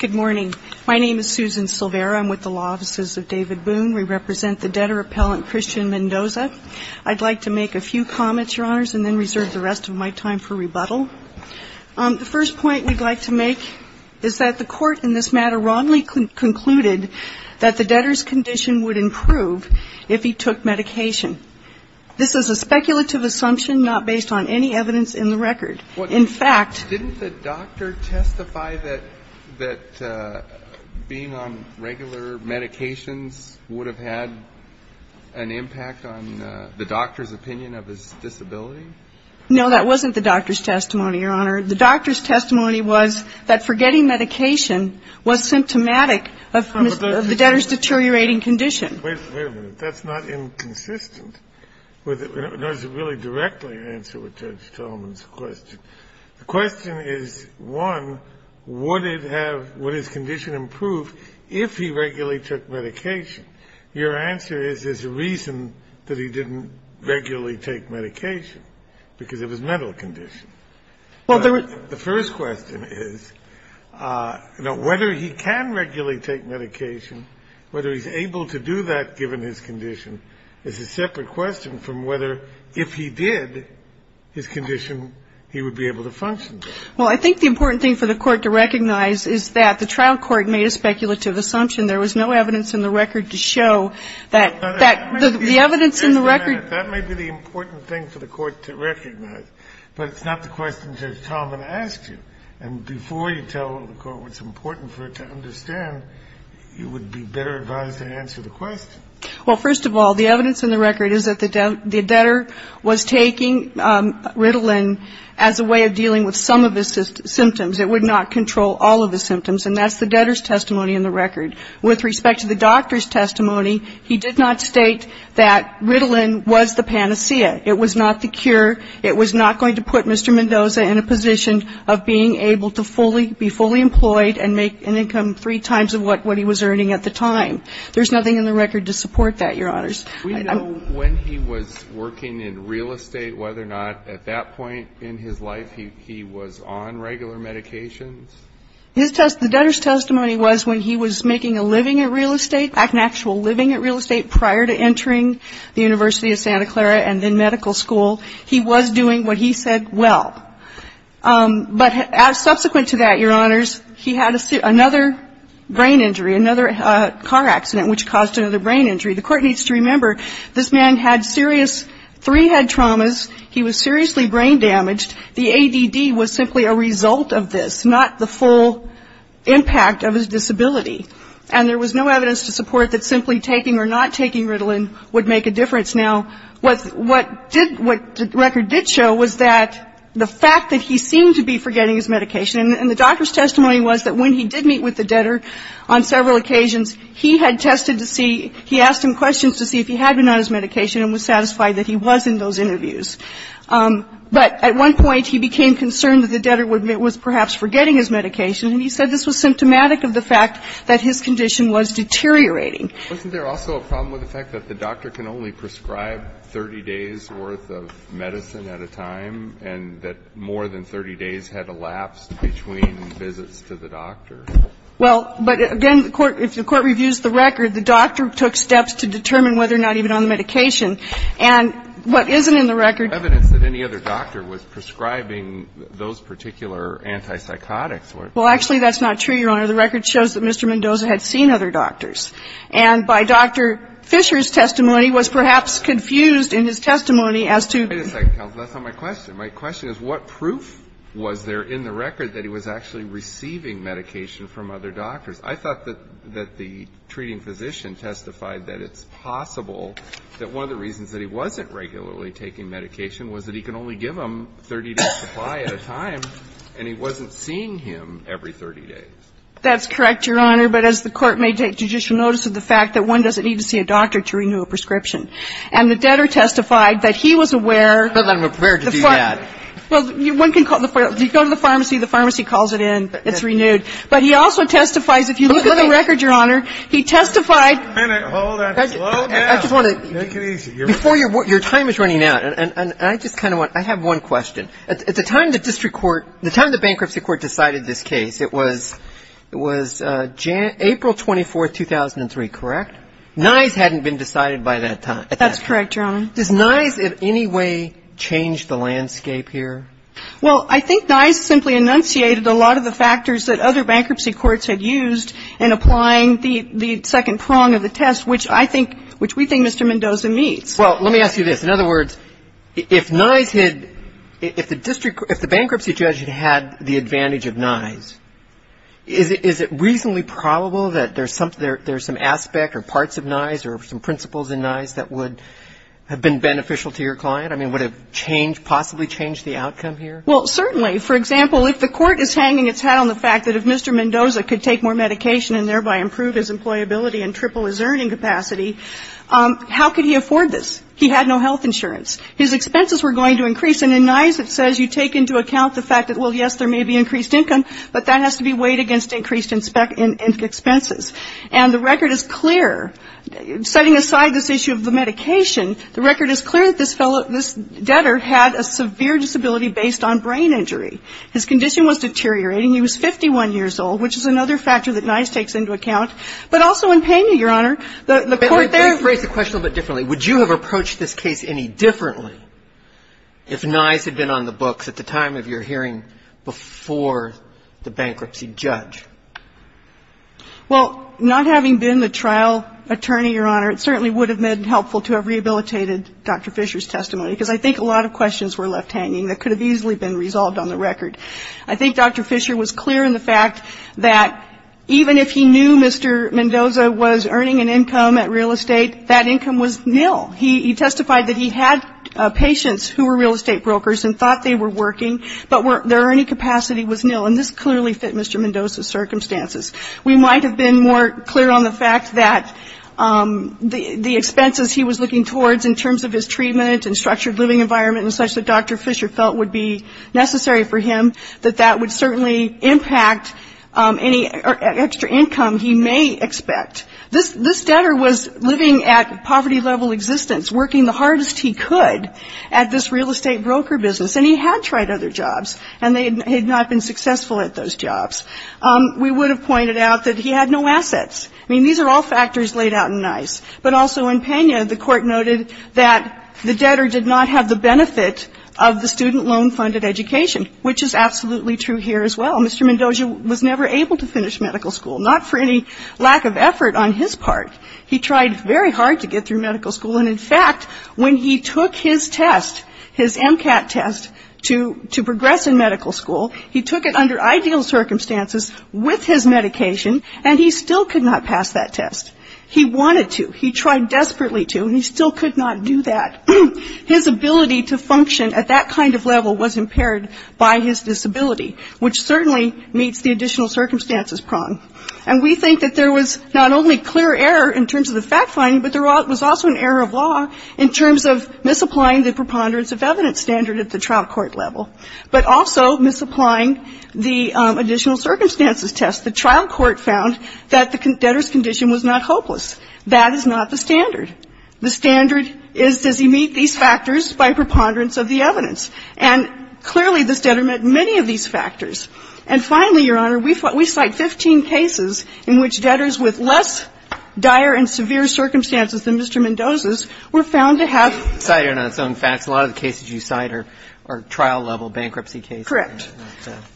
Good morning. My name is Susan Silvera. I'm with the Law Offices of David Boone. We represent the debtor appellant Christian Mendoza. I'd like to make a few comments, Your Honors, and then reserve the rest of my time for rebuttal. The first point we'd like to make is that the Court in this matter wrongly concluded that the debtor's condition would improve if he took medication. This is a speculative assumption not based on any evidence in the record. In fact Didn't the doctor testify that being on regular medications would have had an impact on the doctor's opinion of his disability? No, that wasn't the doctor's testimony, Your Honor. The doctor's testimony was that forgetting medication was symptomatic of the debtor's deteriorating condition. Wait a minute. That's not inconsistent with it. That doesn't really directly answer what Judge Tolman's question. The question is, one, would it have – would his condition improve if he regularly took medication? Your answer is there's a reason that he didn't regularly take medication, because of his mental condition. Well, there was The first question is, you know, whether he can regularly take medication, whether he's able to do that, given his condition, is a separate question from whether if he did, his condition, he would be able to function. Well, I think the important thing for the Court to recognize is that the trial court made a speculative assumption. There was no evidence in the record to show that the evidence in the record That may be the important thing for the Court to recognize, but it's not the question Judge Tolman asked you. And before you tell the Court what's important for it to understand, you would be better advised to answer the question. Well, first of all, the evidence in the record is that the debtor was taking Ritalin as a way of dealing with some of his symptoms. It would not control all of his symptoms. And that's the debtor's testimony in the record. With respect to the doctor's testimony, he did not state that Ritalin was the panacea. It was not the cure. It was not going to put Mr. Mendoza in a position of being able to be fully employed and make an income three times of what he was earning at the time. There's nothing in the record to support that, Your Honors. We know when he was working in real estate, whether or not at that point in his life he was on regular medications. His testimony, the debtor's testimony was when he was making a living at real estate, an actual living at real estate, prior to entering the University of Santa Clara and in medical school. He was doing what he said well. But subsequent to that, Your Honors, he had another brain injury, another car accident which caused another brain injury. The Court needs to remember this man had serious three-head traumas. He was seriously brain damaged. The ADD was simply a result of this, not the full impact of his disability. And there was no evidence to support that simply taking or not taking Ritalin would make a difference. Now, what the record did show was that the fact that he seemed to be forgetting his medication, and the doctor's testimony was that when he did meet with the debtor on several occasions, he had tested to see, he asked him questions to see if he had been on his medication and was satisfied that he was in those interviews. But at one point, he became concerned that the debtor was perhaps forgetting his medication, and he said this was symptomatic of the fact that his condition was deteriorating. Alitoson, wasn't there also a problem with the fact that the doctor can only prescribe 30 days' worth of medicine at a time, and that more than 30 days had elapsed between visits to the doctor? Well, but again, the Court – if the Court reviews the record, the doctor took steps to determine whether or not he had been on the medication. And what isn't in the record is evidence that any other doctor was prescribing those particular antipsychotics where it was. Well, actually, that's not true, Your Honor. The record shows that Mr. Mendoza had seen other doctors. And by Dr. Fisher's testimony, was perhaps confused in his testimony as to – Wait a second, counsel. That's not my question. My question is what proof was there in the record that he was actually receiving medication from other doctors? I thought that the treating physician testified that it's possible that one of the reasons that he wasn't regularly taking medication was that he could only give them 30 days' supply at a time, and he wasn't seeing him every 30 days. That's correct, Your Honor. But as the Court may take judicial notice of the fact that one doesn't need to see a doctor to renew a prescription. And the debtor testified that he was aware – But I'm aware to do that. Well, one can call – you go to the pharmacy, the pharmacy calls it in, it's renewed. But he also testifies – if you look at the record, Your Honor, he testified – Hold on. Slow down. I just want to – Make it easy. Before your time is running out, and I just kind of want – I have one question. At the time the district court – the time the bankruptcy court decided this case, it was April 24, 2003, correct? Nye's hadn't been decided by that time. That's correct, Your Honor. Does Nye's in any way change the landscape here? Well, I think Nye's simply enunciated a lot of the factors that other bankruptcy courts had used in applying the second prong of the test, which I think – which we think Mr. Mendoza meets. Well, let me ask you this. In other words, if Nye's had – if the district – if Is it reasonably probable that there's some aspect or parts of Nye's or some principles in Nye's that would have been beneficial to your client? I mean, would it change – possibly change the outcome here? Well, certainly. For example, if the court is hanging its hat on the fact that if Mr. Mendoza could take more medication and thereby improve his employability and triple his earning capacity, how could he afford this? He had no health insurance. His expenses were going to increase, and in Nye's it says you take into account the fact that, well, yes, there may be increased income, but that has to be weighed against increased expenses. And the record is clear. Setting aside this issue of the medication, the record is clear that this fellow – this debtor had a severe disability based on brain injury. His condition was deteriorating. He was 51 years old, which is another factor that Nye's takes into account. But also in payment, Your Honor, the court there – Let me phrase the question a little bit differently. Would you have approached this case any differently if Nye's had been on the books at the time of your hearing before the bankruptcy judge? Well, not having been the trial attorney, Your Honor, it certainly would have been helpful to have rehabilitated Dr. Fisher's testimony, because I think a lot of questions were left hanging that could have easily been resolved on the record. I think Dr. Fisher was clear in the fact that even if he knew Mr. Mendoza was earning an income at real estate, that income was nil. He testified that he had patients who were real estate brokers and thought they were working, but their earning capacity was nil. And this clearly fit Mr. Mendoza's circumstances. We might have been more clear on the fact that the expenses he was looking towards in terms of his treatment and structured living environment and such that Dr. Fisher felt would be necessary for him, that that would certainly impact any extra income he may expect. This debtor was living at poverty-level existence, working the hardest he could at this real estate broker business, and he had tried other jobs, and he had not been successful at those jobs. We would have pointed out that he had no assets. I mean, these are all factors laid out in NICE. But also in Pena, the court noted that the debtor did not have the benefit of the student loan-funded education, which is absolutely true here as well. Mr. Mendoza was never able to finish medical school, not for any lack of effort on his part. He tried very hard to get through medical school. And in fact, when he took his test, his MCAT test, to progress in medical school, he took it under ideal circumstances with his medication, and he still could not pass that test. He wanted to. He tried desperately to, and he still could not do that. His ability to function at that kind of level was impaired by his disability, which certainly meets the additional circumstances prong. And we think that there was not only clear error in terms of the fact-finding, but there was also an error of law in terms of misapplying the preponderance of evidence standard at the trial court level, but also misapplying the additional circumstances test. The trial court found that the debtor's condition was not hopeless. That is not the standard. The standard is, does he meet these factors by preponderance of the evidence? And clearly, this debtor met many of these factors. And finally, Your Honor, the debtors with less dire and severe circumstances than Mr. Mendoza's were found to have ---- Kagan in on its own facts. A lot of the cases you cite are trial-level bankruptcy cases. Correct.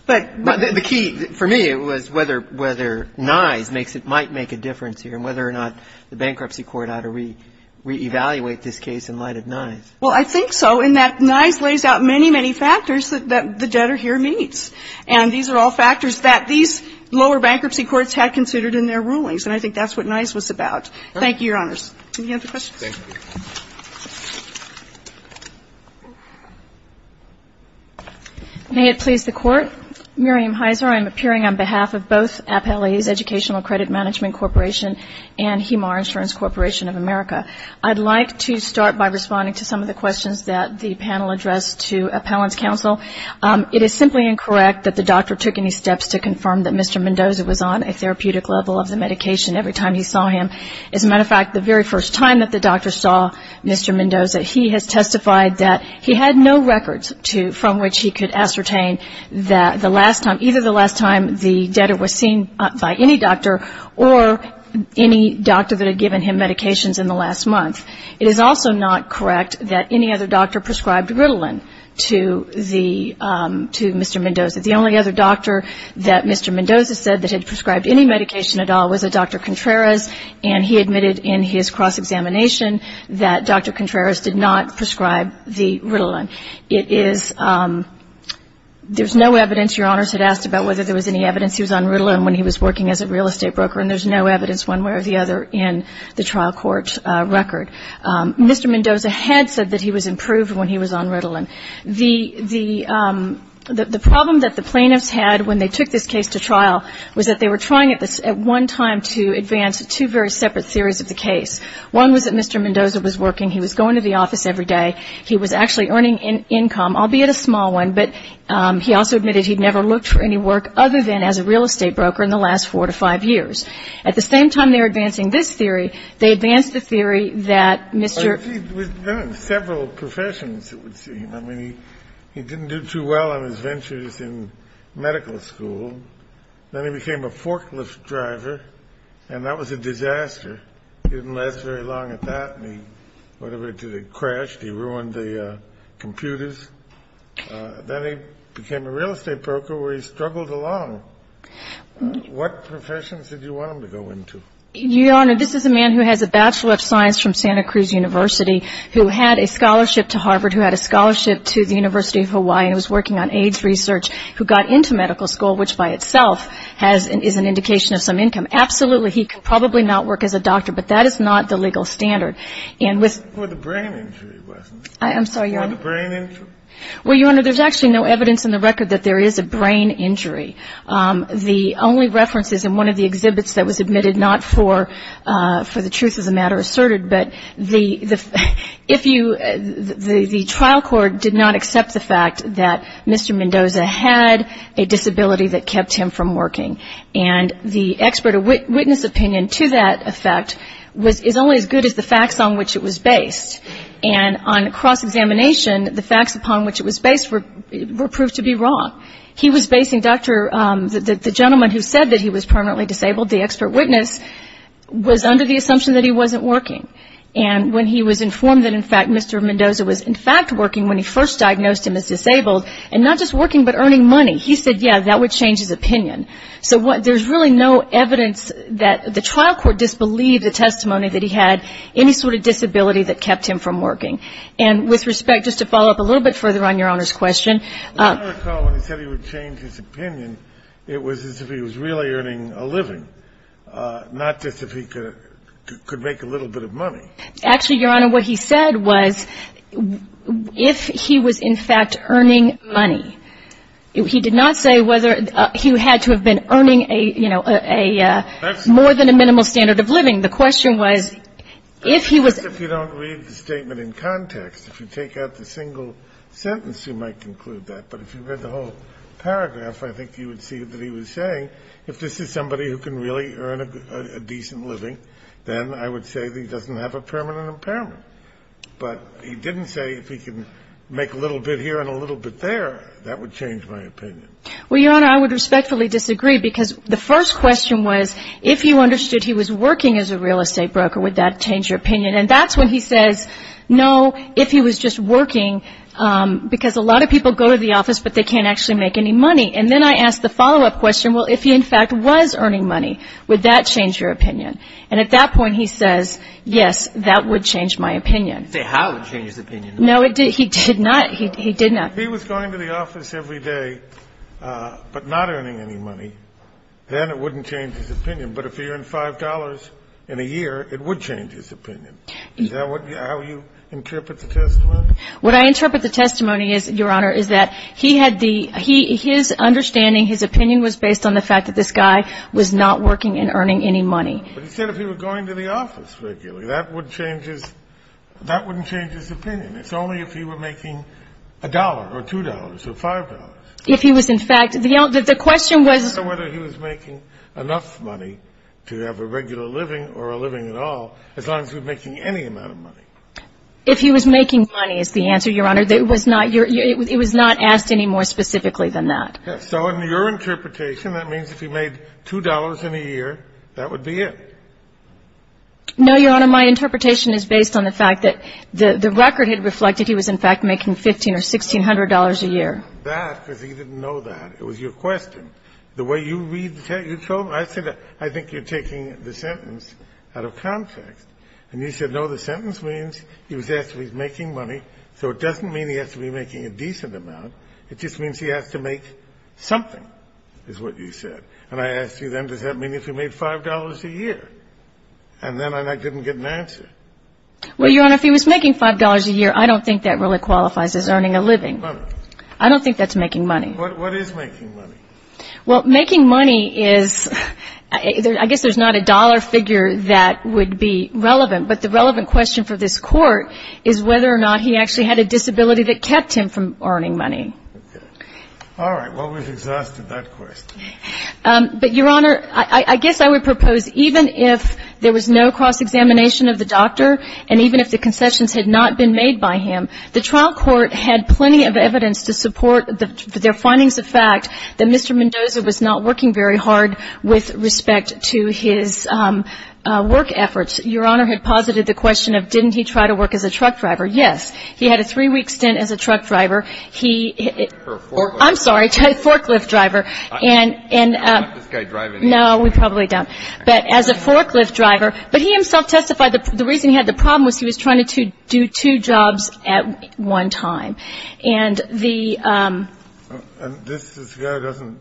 But the key for me was whether NISE makes it ñ might make a difference here, and whether or not the bankruptcy court ought to reevaluate this case in light of NISE. Well, I think so, in that NISE lays out many, many factors that the debtor here meets. And these are all factors that these lower bankruptcy courts had considered in their rulings. And I think that's what NISE was about. Thank you, Your Honors. Do you have any questions? Thank you. May it please the Court. Miriam Heiser. I'm appearing on behalf of both Appellees Educational Credit Management Corporation and Hemar Insurance Corporation of America. I'd like to start by responding to some of the questions that the panel addressed to Appellant's counsel. It is simply incorrect that the doctor took any time he saw him. As a matter of fact, the very first time that the doctor saw Mr. Mendoza, he has testified that he had no records to ñ from which he could ascertain that the last time ñ either the last time the debtor was seen by any doctor or any doctor that had given him medications in the last month. It is also not correct that any other doctor prescribed Ritalin to the ñ to Mr. Mendoza. The only other doctor that Mr. Mendoza said that had prescribed any medication at all was a Dr. Contreras, and he admitted in his cross-examination that Dr. Contreras did not prescribe the Ritalin. It is ñ there's no evidence ñ Your Honors had asked about whether there was any evidence he was on Ritalin when he was working as a real estate broker, and there's no evidence one way or the other in the trial court record. Mr. Mendoza had said that he was improved when he was on Ritalin. The problem that the plaintiffs had when they took this case to trial was that they were trying at one time to advance two very separate theories of the case. One was that Mr. Mendoza was working, he was going to the office every day, he was actually earning income, albeit a small one, but he also admitted he'd never looked for any work other than as a real estate broker in the last four to five years. At the same time they were advancing this theory, they advanced the theory that Mr. ñ Well, he'd been in several professions, it would seem. I mean, he didn't do too well on his ventures in medical school. Then he became a forklift driver, and that was a disaster. He didn't last very long at that, and he ñ whatever it did, it crashed, he ruined the computers. Then he became a real estate broker where he struggled along. What professions did you want him to go into? Your Honor, this is a man who has a Bachelor of Science from Santa Cruz University who had a scholarship to Harvard, who had a scholarship to the University of Hawaii, and was working on AIDS research, who got into medical school, which by itself has ñ is an indication of some income. Absolutely, he could probably not work as a doctor, but that is not the legal standard. And with ñ For the brain injury, wasn't it? I'm sorry, Your Honor. For the brain injury? Well, Your Honor, there's actually no evidence in the record that there is a brain injury. The only reference is in one of the exhibits that was admitted, not for the truth of the matter asserted, but the ñ if you ñ the trial court did not accept the fact that Mr. Mendoza had a disability that kept him from working. And the expert or witness opinion to that effect was ñ is only as good as the facts on which it was based. And on cross-examination, the facts upon which it was based would be wrong. He was basing Dr. ñ the gentleman who said that he was permanently disabled, the expert witness, was under the assumption that he wasn't working. And when he was informed that, in fact, Mr. Mendoza was, in fact, working when he first diagnosed him as disabled, and not just working, but earning money, he said, yeah, that would change his opinion. So what ñ there's really no evidence that ñ the trial court disbelieved the testimony that he had any sort of disability that kept him from working. And with respect, just to follow up a little bit further on Your Honor's question. I recall when he said he would change his opinion, it was as if he was really earning a living, not just if he could make a little bit of money. Actually, Your Honor, what he said was if he was, in fact, earning money. He did not say whether he had to have been earning a ñ you know, a more than a minimal standard of living. The question was if he was ñ If you take out the single sentence, you might conclude that. But if you read the whole paragraph, I think you would see that he was saying, if this is somebody who can really earn a decent living, then I would say that he doesn't have a permanent impairment. But he didn't say if he can make a little bit here and a little bit there, that would change my opinion. Well, Your Honor, I would respectfully disagree, because the first question was, if you understood he was working as a real estate broker, would that change your opinion? And that's when he says, no, if he was just working, because a lot of people go to the office, but they can't actually make any money. And then I ask the follow-up question, well, if he, in fact, was earning money, would that change your opinion? And at that point, he says, yes, that would change my opinion. He didn't say how it would change his opinion. No, it didn't. He did not. He did not. If he was going to the office every day but not earning any money, then it wouldn't change his opinion. But if he earned $5 in a year, it would change his opinion. Is that how you interpret the testimony? What I interpret the testimony is, Your Honor, is that he had the – his understanding, his opinion was based on the fact that this guy was not working and earning any money. But he said if he were going to the office regularly, that would change his – that wouldn't change his opinion. It's only if he were making $1 or $2 or $5. If he was, in fact – the question was – I don't know whether he was making enough money to have a regular living or a living at all, as long as he was making any amount of money. If he was making money is the answer, Your Honor. It was not – it was not asked any more specifically than that. Yes. So in your interpretation, that means if he made $2 in a year, that would be it. No, Your Honor, my interpretation is based on the fact that the record had reflected he was, in fact, making $1,500 or $1,600 a year. I'm not saying that because he didn't know that. It was your question. The way you read the – you told – I said I think you're taking the sentence out of context. And you said, no, the sentence means he was asked if he was making money, so it doesn't mean he has to be making a decent amount. It just means he has to make something, is what you said. And I asked you then, does that mean if he made $5 a year? And then I didn't get an answer. Well, Your Honor, if he was making $5 a year, I don't think that really qualifies as earning a living. Making money. I don't think that's making money. What is making money? Well, making money is – I guess there's not a dollar figure that would be relevant, but the relevant question for this Court is whether or not he actually had a disability that kept him from earning money. Okay. All right. Well, we've exhausted that question. But, Your Honor, I guess I would propose even if there was no cross-examination of the doctor and even if the concessions had not been made by him, the trial court had plenty of evidence to support their findings of fact, that Mr. Mendoza was not working very hard with respect to his work efforts. Your Honor had posited the question of didn't he try to work as a truck driver. Yes. He had a three-week stint as a truck driver. He – For a forklift. I'm sorry. Forklift driver. I'm not this guy driving. No, we probably don't. But as a forklift driver. But he himself testified the reason he had the problem was he was trying to do two jobs at one time. And the – And this guy doesn't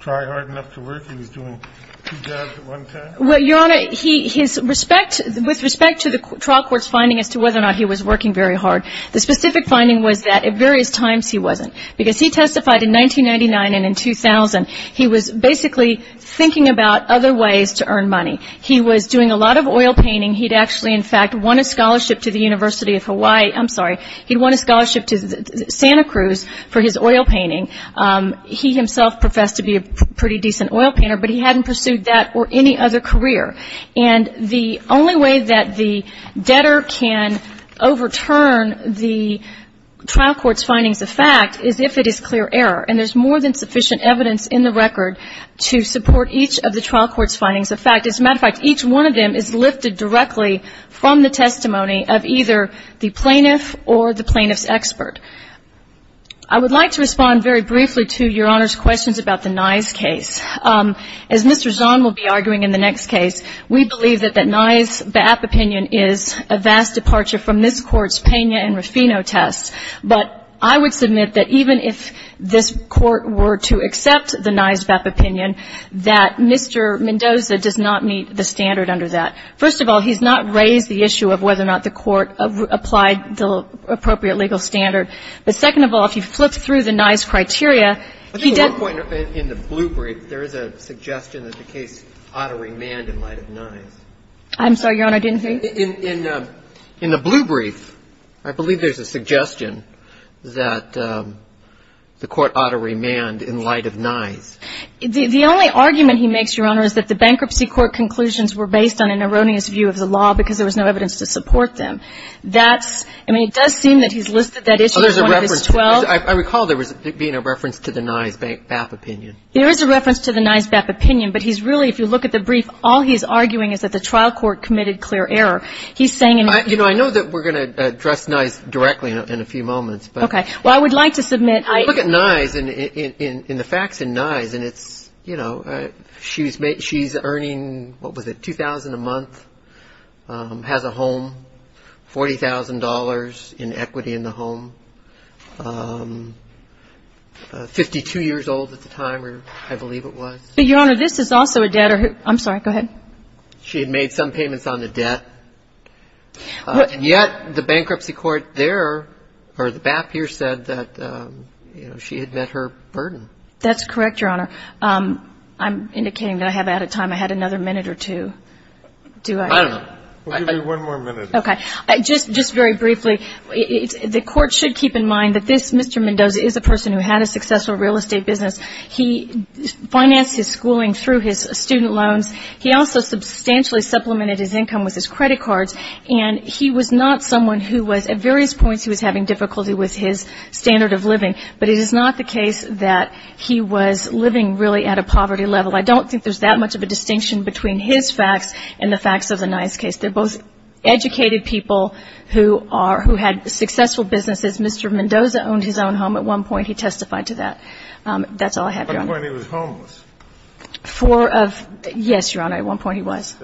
try hard enough to work? He was doing two jobs at one time? Well, Your Honor, he – his respect – with respect to the trial court's finding as to whether or not he was working very hard, the specific finding was that at various times he wasn't. Because he testified in 1999 and in 2000, he was basically thinking about other ways to earn money. He was doing a lot of oil painting. He'd actually, in fact, won a scholarship to the University of Hawaii. I'm sorry. He won a scholarship to Santa Cruz for his oil painting. He himself professed to be a pretty decent oil painter, but he hadn't pursued that or any other career. And the only way that the debtor can overturn the trial court's findings of fact is if it is clear error. And there's more than sufficient evidence in the record to support each of the testified. Each one of them is lifted directly from the testimony of either the plaintiff or the plaintiff's expert. I would like to respond very briefly to Your Honor's questions about the Nye's case. As Mr. Zahn will be arguing in the next case, we believe that that Nye's BAP opinion is a vast departure from this Court's Pena and Rufino test. But I would submit that even if this Court were to accept the Nye's BAP opinion, that Mr. Mendoza does not meet the standard under that. First of all, he's not raised the issue of whether or not the Court applied the appropriate legal standard. But second of all, if you flip through the Nye's criteria, he does not meet the standard. I think at one point in the blue brief, there is a suggestion that the case ought to remand in light of Nye's. I'm sorry, Your Honor, I didn't hear you. In the blue brief, I believe there's a suggestion that the Court ought to remand in light of Nye's. The only argument he makes, Your Honor, is that the bankruptcy court conclusions were based on an erroneous view of the law because there was no evidence to support them. That's – I mean, it does seem that he's listed that issue as one of his 12. I recall there being a reference to the Nye's BAP opinion. There is a reference to the Nye's BAP opinion, but he's really – if you look at the brief, all he's arguing is that the trial court committed clear error. He's saying – You know, I know that we're going to address Nye's directly in a few moments, but – Okay. Well, I would like to submit – Look at Nye's and the facts in Nye's, and it's – you know, she's earning, what was it, $2,000 a month, has a home, $40,000 in equity in the home, 52 years old at the time, I believe it was. Your Honor, this is also a debtor – I'm sorry, go ahead. She had made some payments on the debt, and yet the bankruptcy court there, or the BAP court, you know, she had met her burden. That's correct, Your Honor. I'm indicating that I have out of time. I had another minute or two. Do I – I don't know. We'll give you one more minute. Okay. Just very briefly, the Court should keep in mind that this Mr. Mendoza is a person who had a successful real estate business. He financed his schooling through his student loans. He also substantially supplemented his income with his credit cards. And he was not someone who was – at various points he was having difficulty with his standard of living. But it is not the case that he was living really at a poverty level. I don't think there's that much of a distinction between his facts and the facts of the Nye's case. They're both educated people who are – who had successful businesses. Mr. Mendoza owned his own home at one point. He testified to that. That's all I have, Your Honor. At one point he was homeless. For – yes, Your Honor, at one point he was.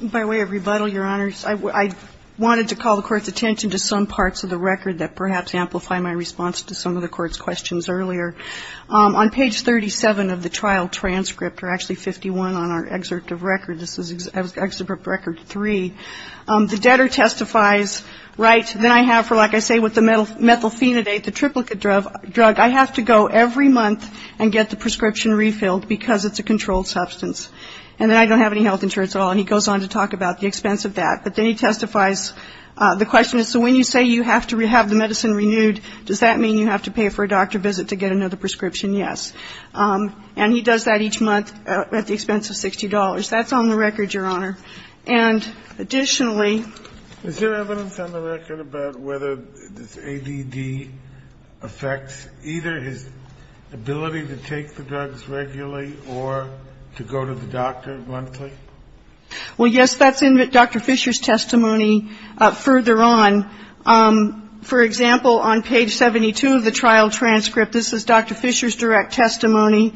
By way of rebuttal, Your Honor, I wanted to call the Court's attention to some parts of the record that perhaps amplify my response to some of the Court's questions earlier. On page 37 of the trial transcript, or actually 51 on our excerpt of record, this is excerpt record three, the debtor testifies, right, that I have for, like I say, with the methylphenidate, the triplicate drug, I have to go every month and get the prescription refilled because it's a controlled substance. And then I don't have any health insurance at all. And he goes on to talk about the expense of that. But then he testifies, the question is, so when you say you have to have the medicine renewed, does that mean you have to pay for a doctor visit to get another prescription? Yes. And he does that each month at the expense of $60. That's on the record, Your Honor. And additionally ---- Is there evidence on the record about whether this ADD affects either his ability to take the drugs regularly or to go to the doctor monthly? Well, yes, that's in Dr. Fisher's testimony further on. For example, on page 72 of the trial transcript, this is Dr. Fisher's direct testimony.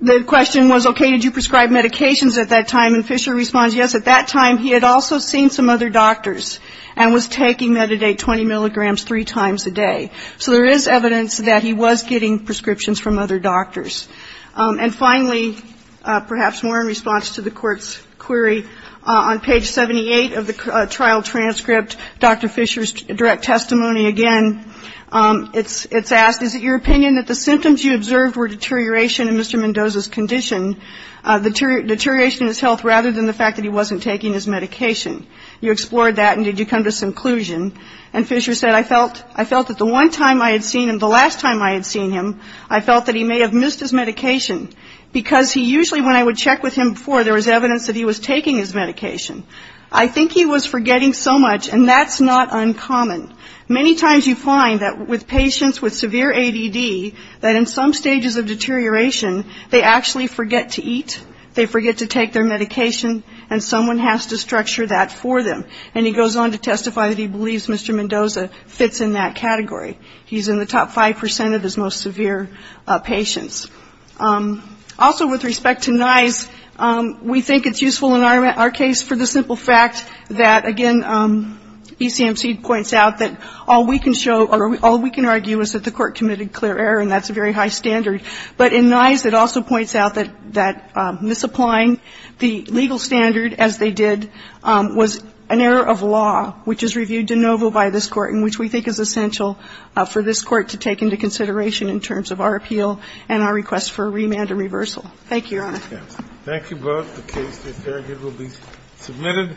The question was, okay, did you prescribe medications at that time? And Fisher responds, yes, at that time he had also seen some other doctors and was taking metadate 20 milligrams three times a day. So there is evidence that he was getting prescriptions from other doctors. And finally, perhaps more in response to the Court's query, on page 78 of the trial transcript, Dr. Fisher's direct testimony again, it's asked, is it your opinion that the symptoms you observed were deterioration in Mr. Mendoza's condition, deterioration in his health rather than the fact that he wasn't taking his medication? You explored that, and did you come to some conclusion? And Fisher said, I felt that the one time I had seen him, the last time I had seen him, I felt that he may have missed his medication because he usually, when I would check with him before, there was evidence that he was taking his medication. I think he was forgetting so much, and that's not uncommon. Many times you find that with patients with severe ADD, that in some stages of deterioration, they actually forget to eat, they forget to take their medication, and someone has to structure that for them. And he goes on to testify that he believes Mr. Mendoza fits in that category. He's in the top 5% of his most severe patients. Also with respect to NISE, we think it's useful in our case for the simple fact that, again, ECMC points out that all we can show or all we can argue is that the court committed clear error, and that's a very high standard. But in NISE, it also points out that misapplying the legal standard as they did was an error of law, which is reviewed de novo by this Court and which we think is essential for this Court to take into consideration in terms of our appeal and our request for remand and reversal. Thank you, Your Honor. Thank you both. The case is here. It will be submitted.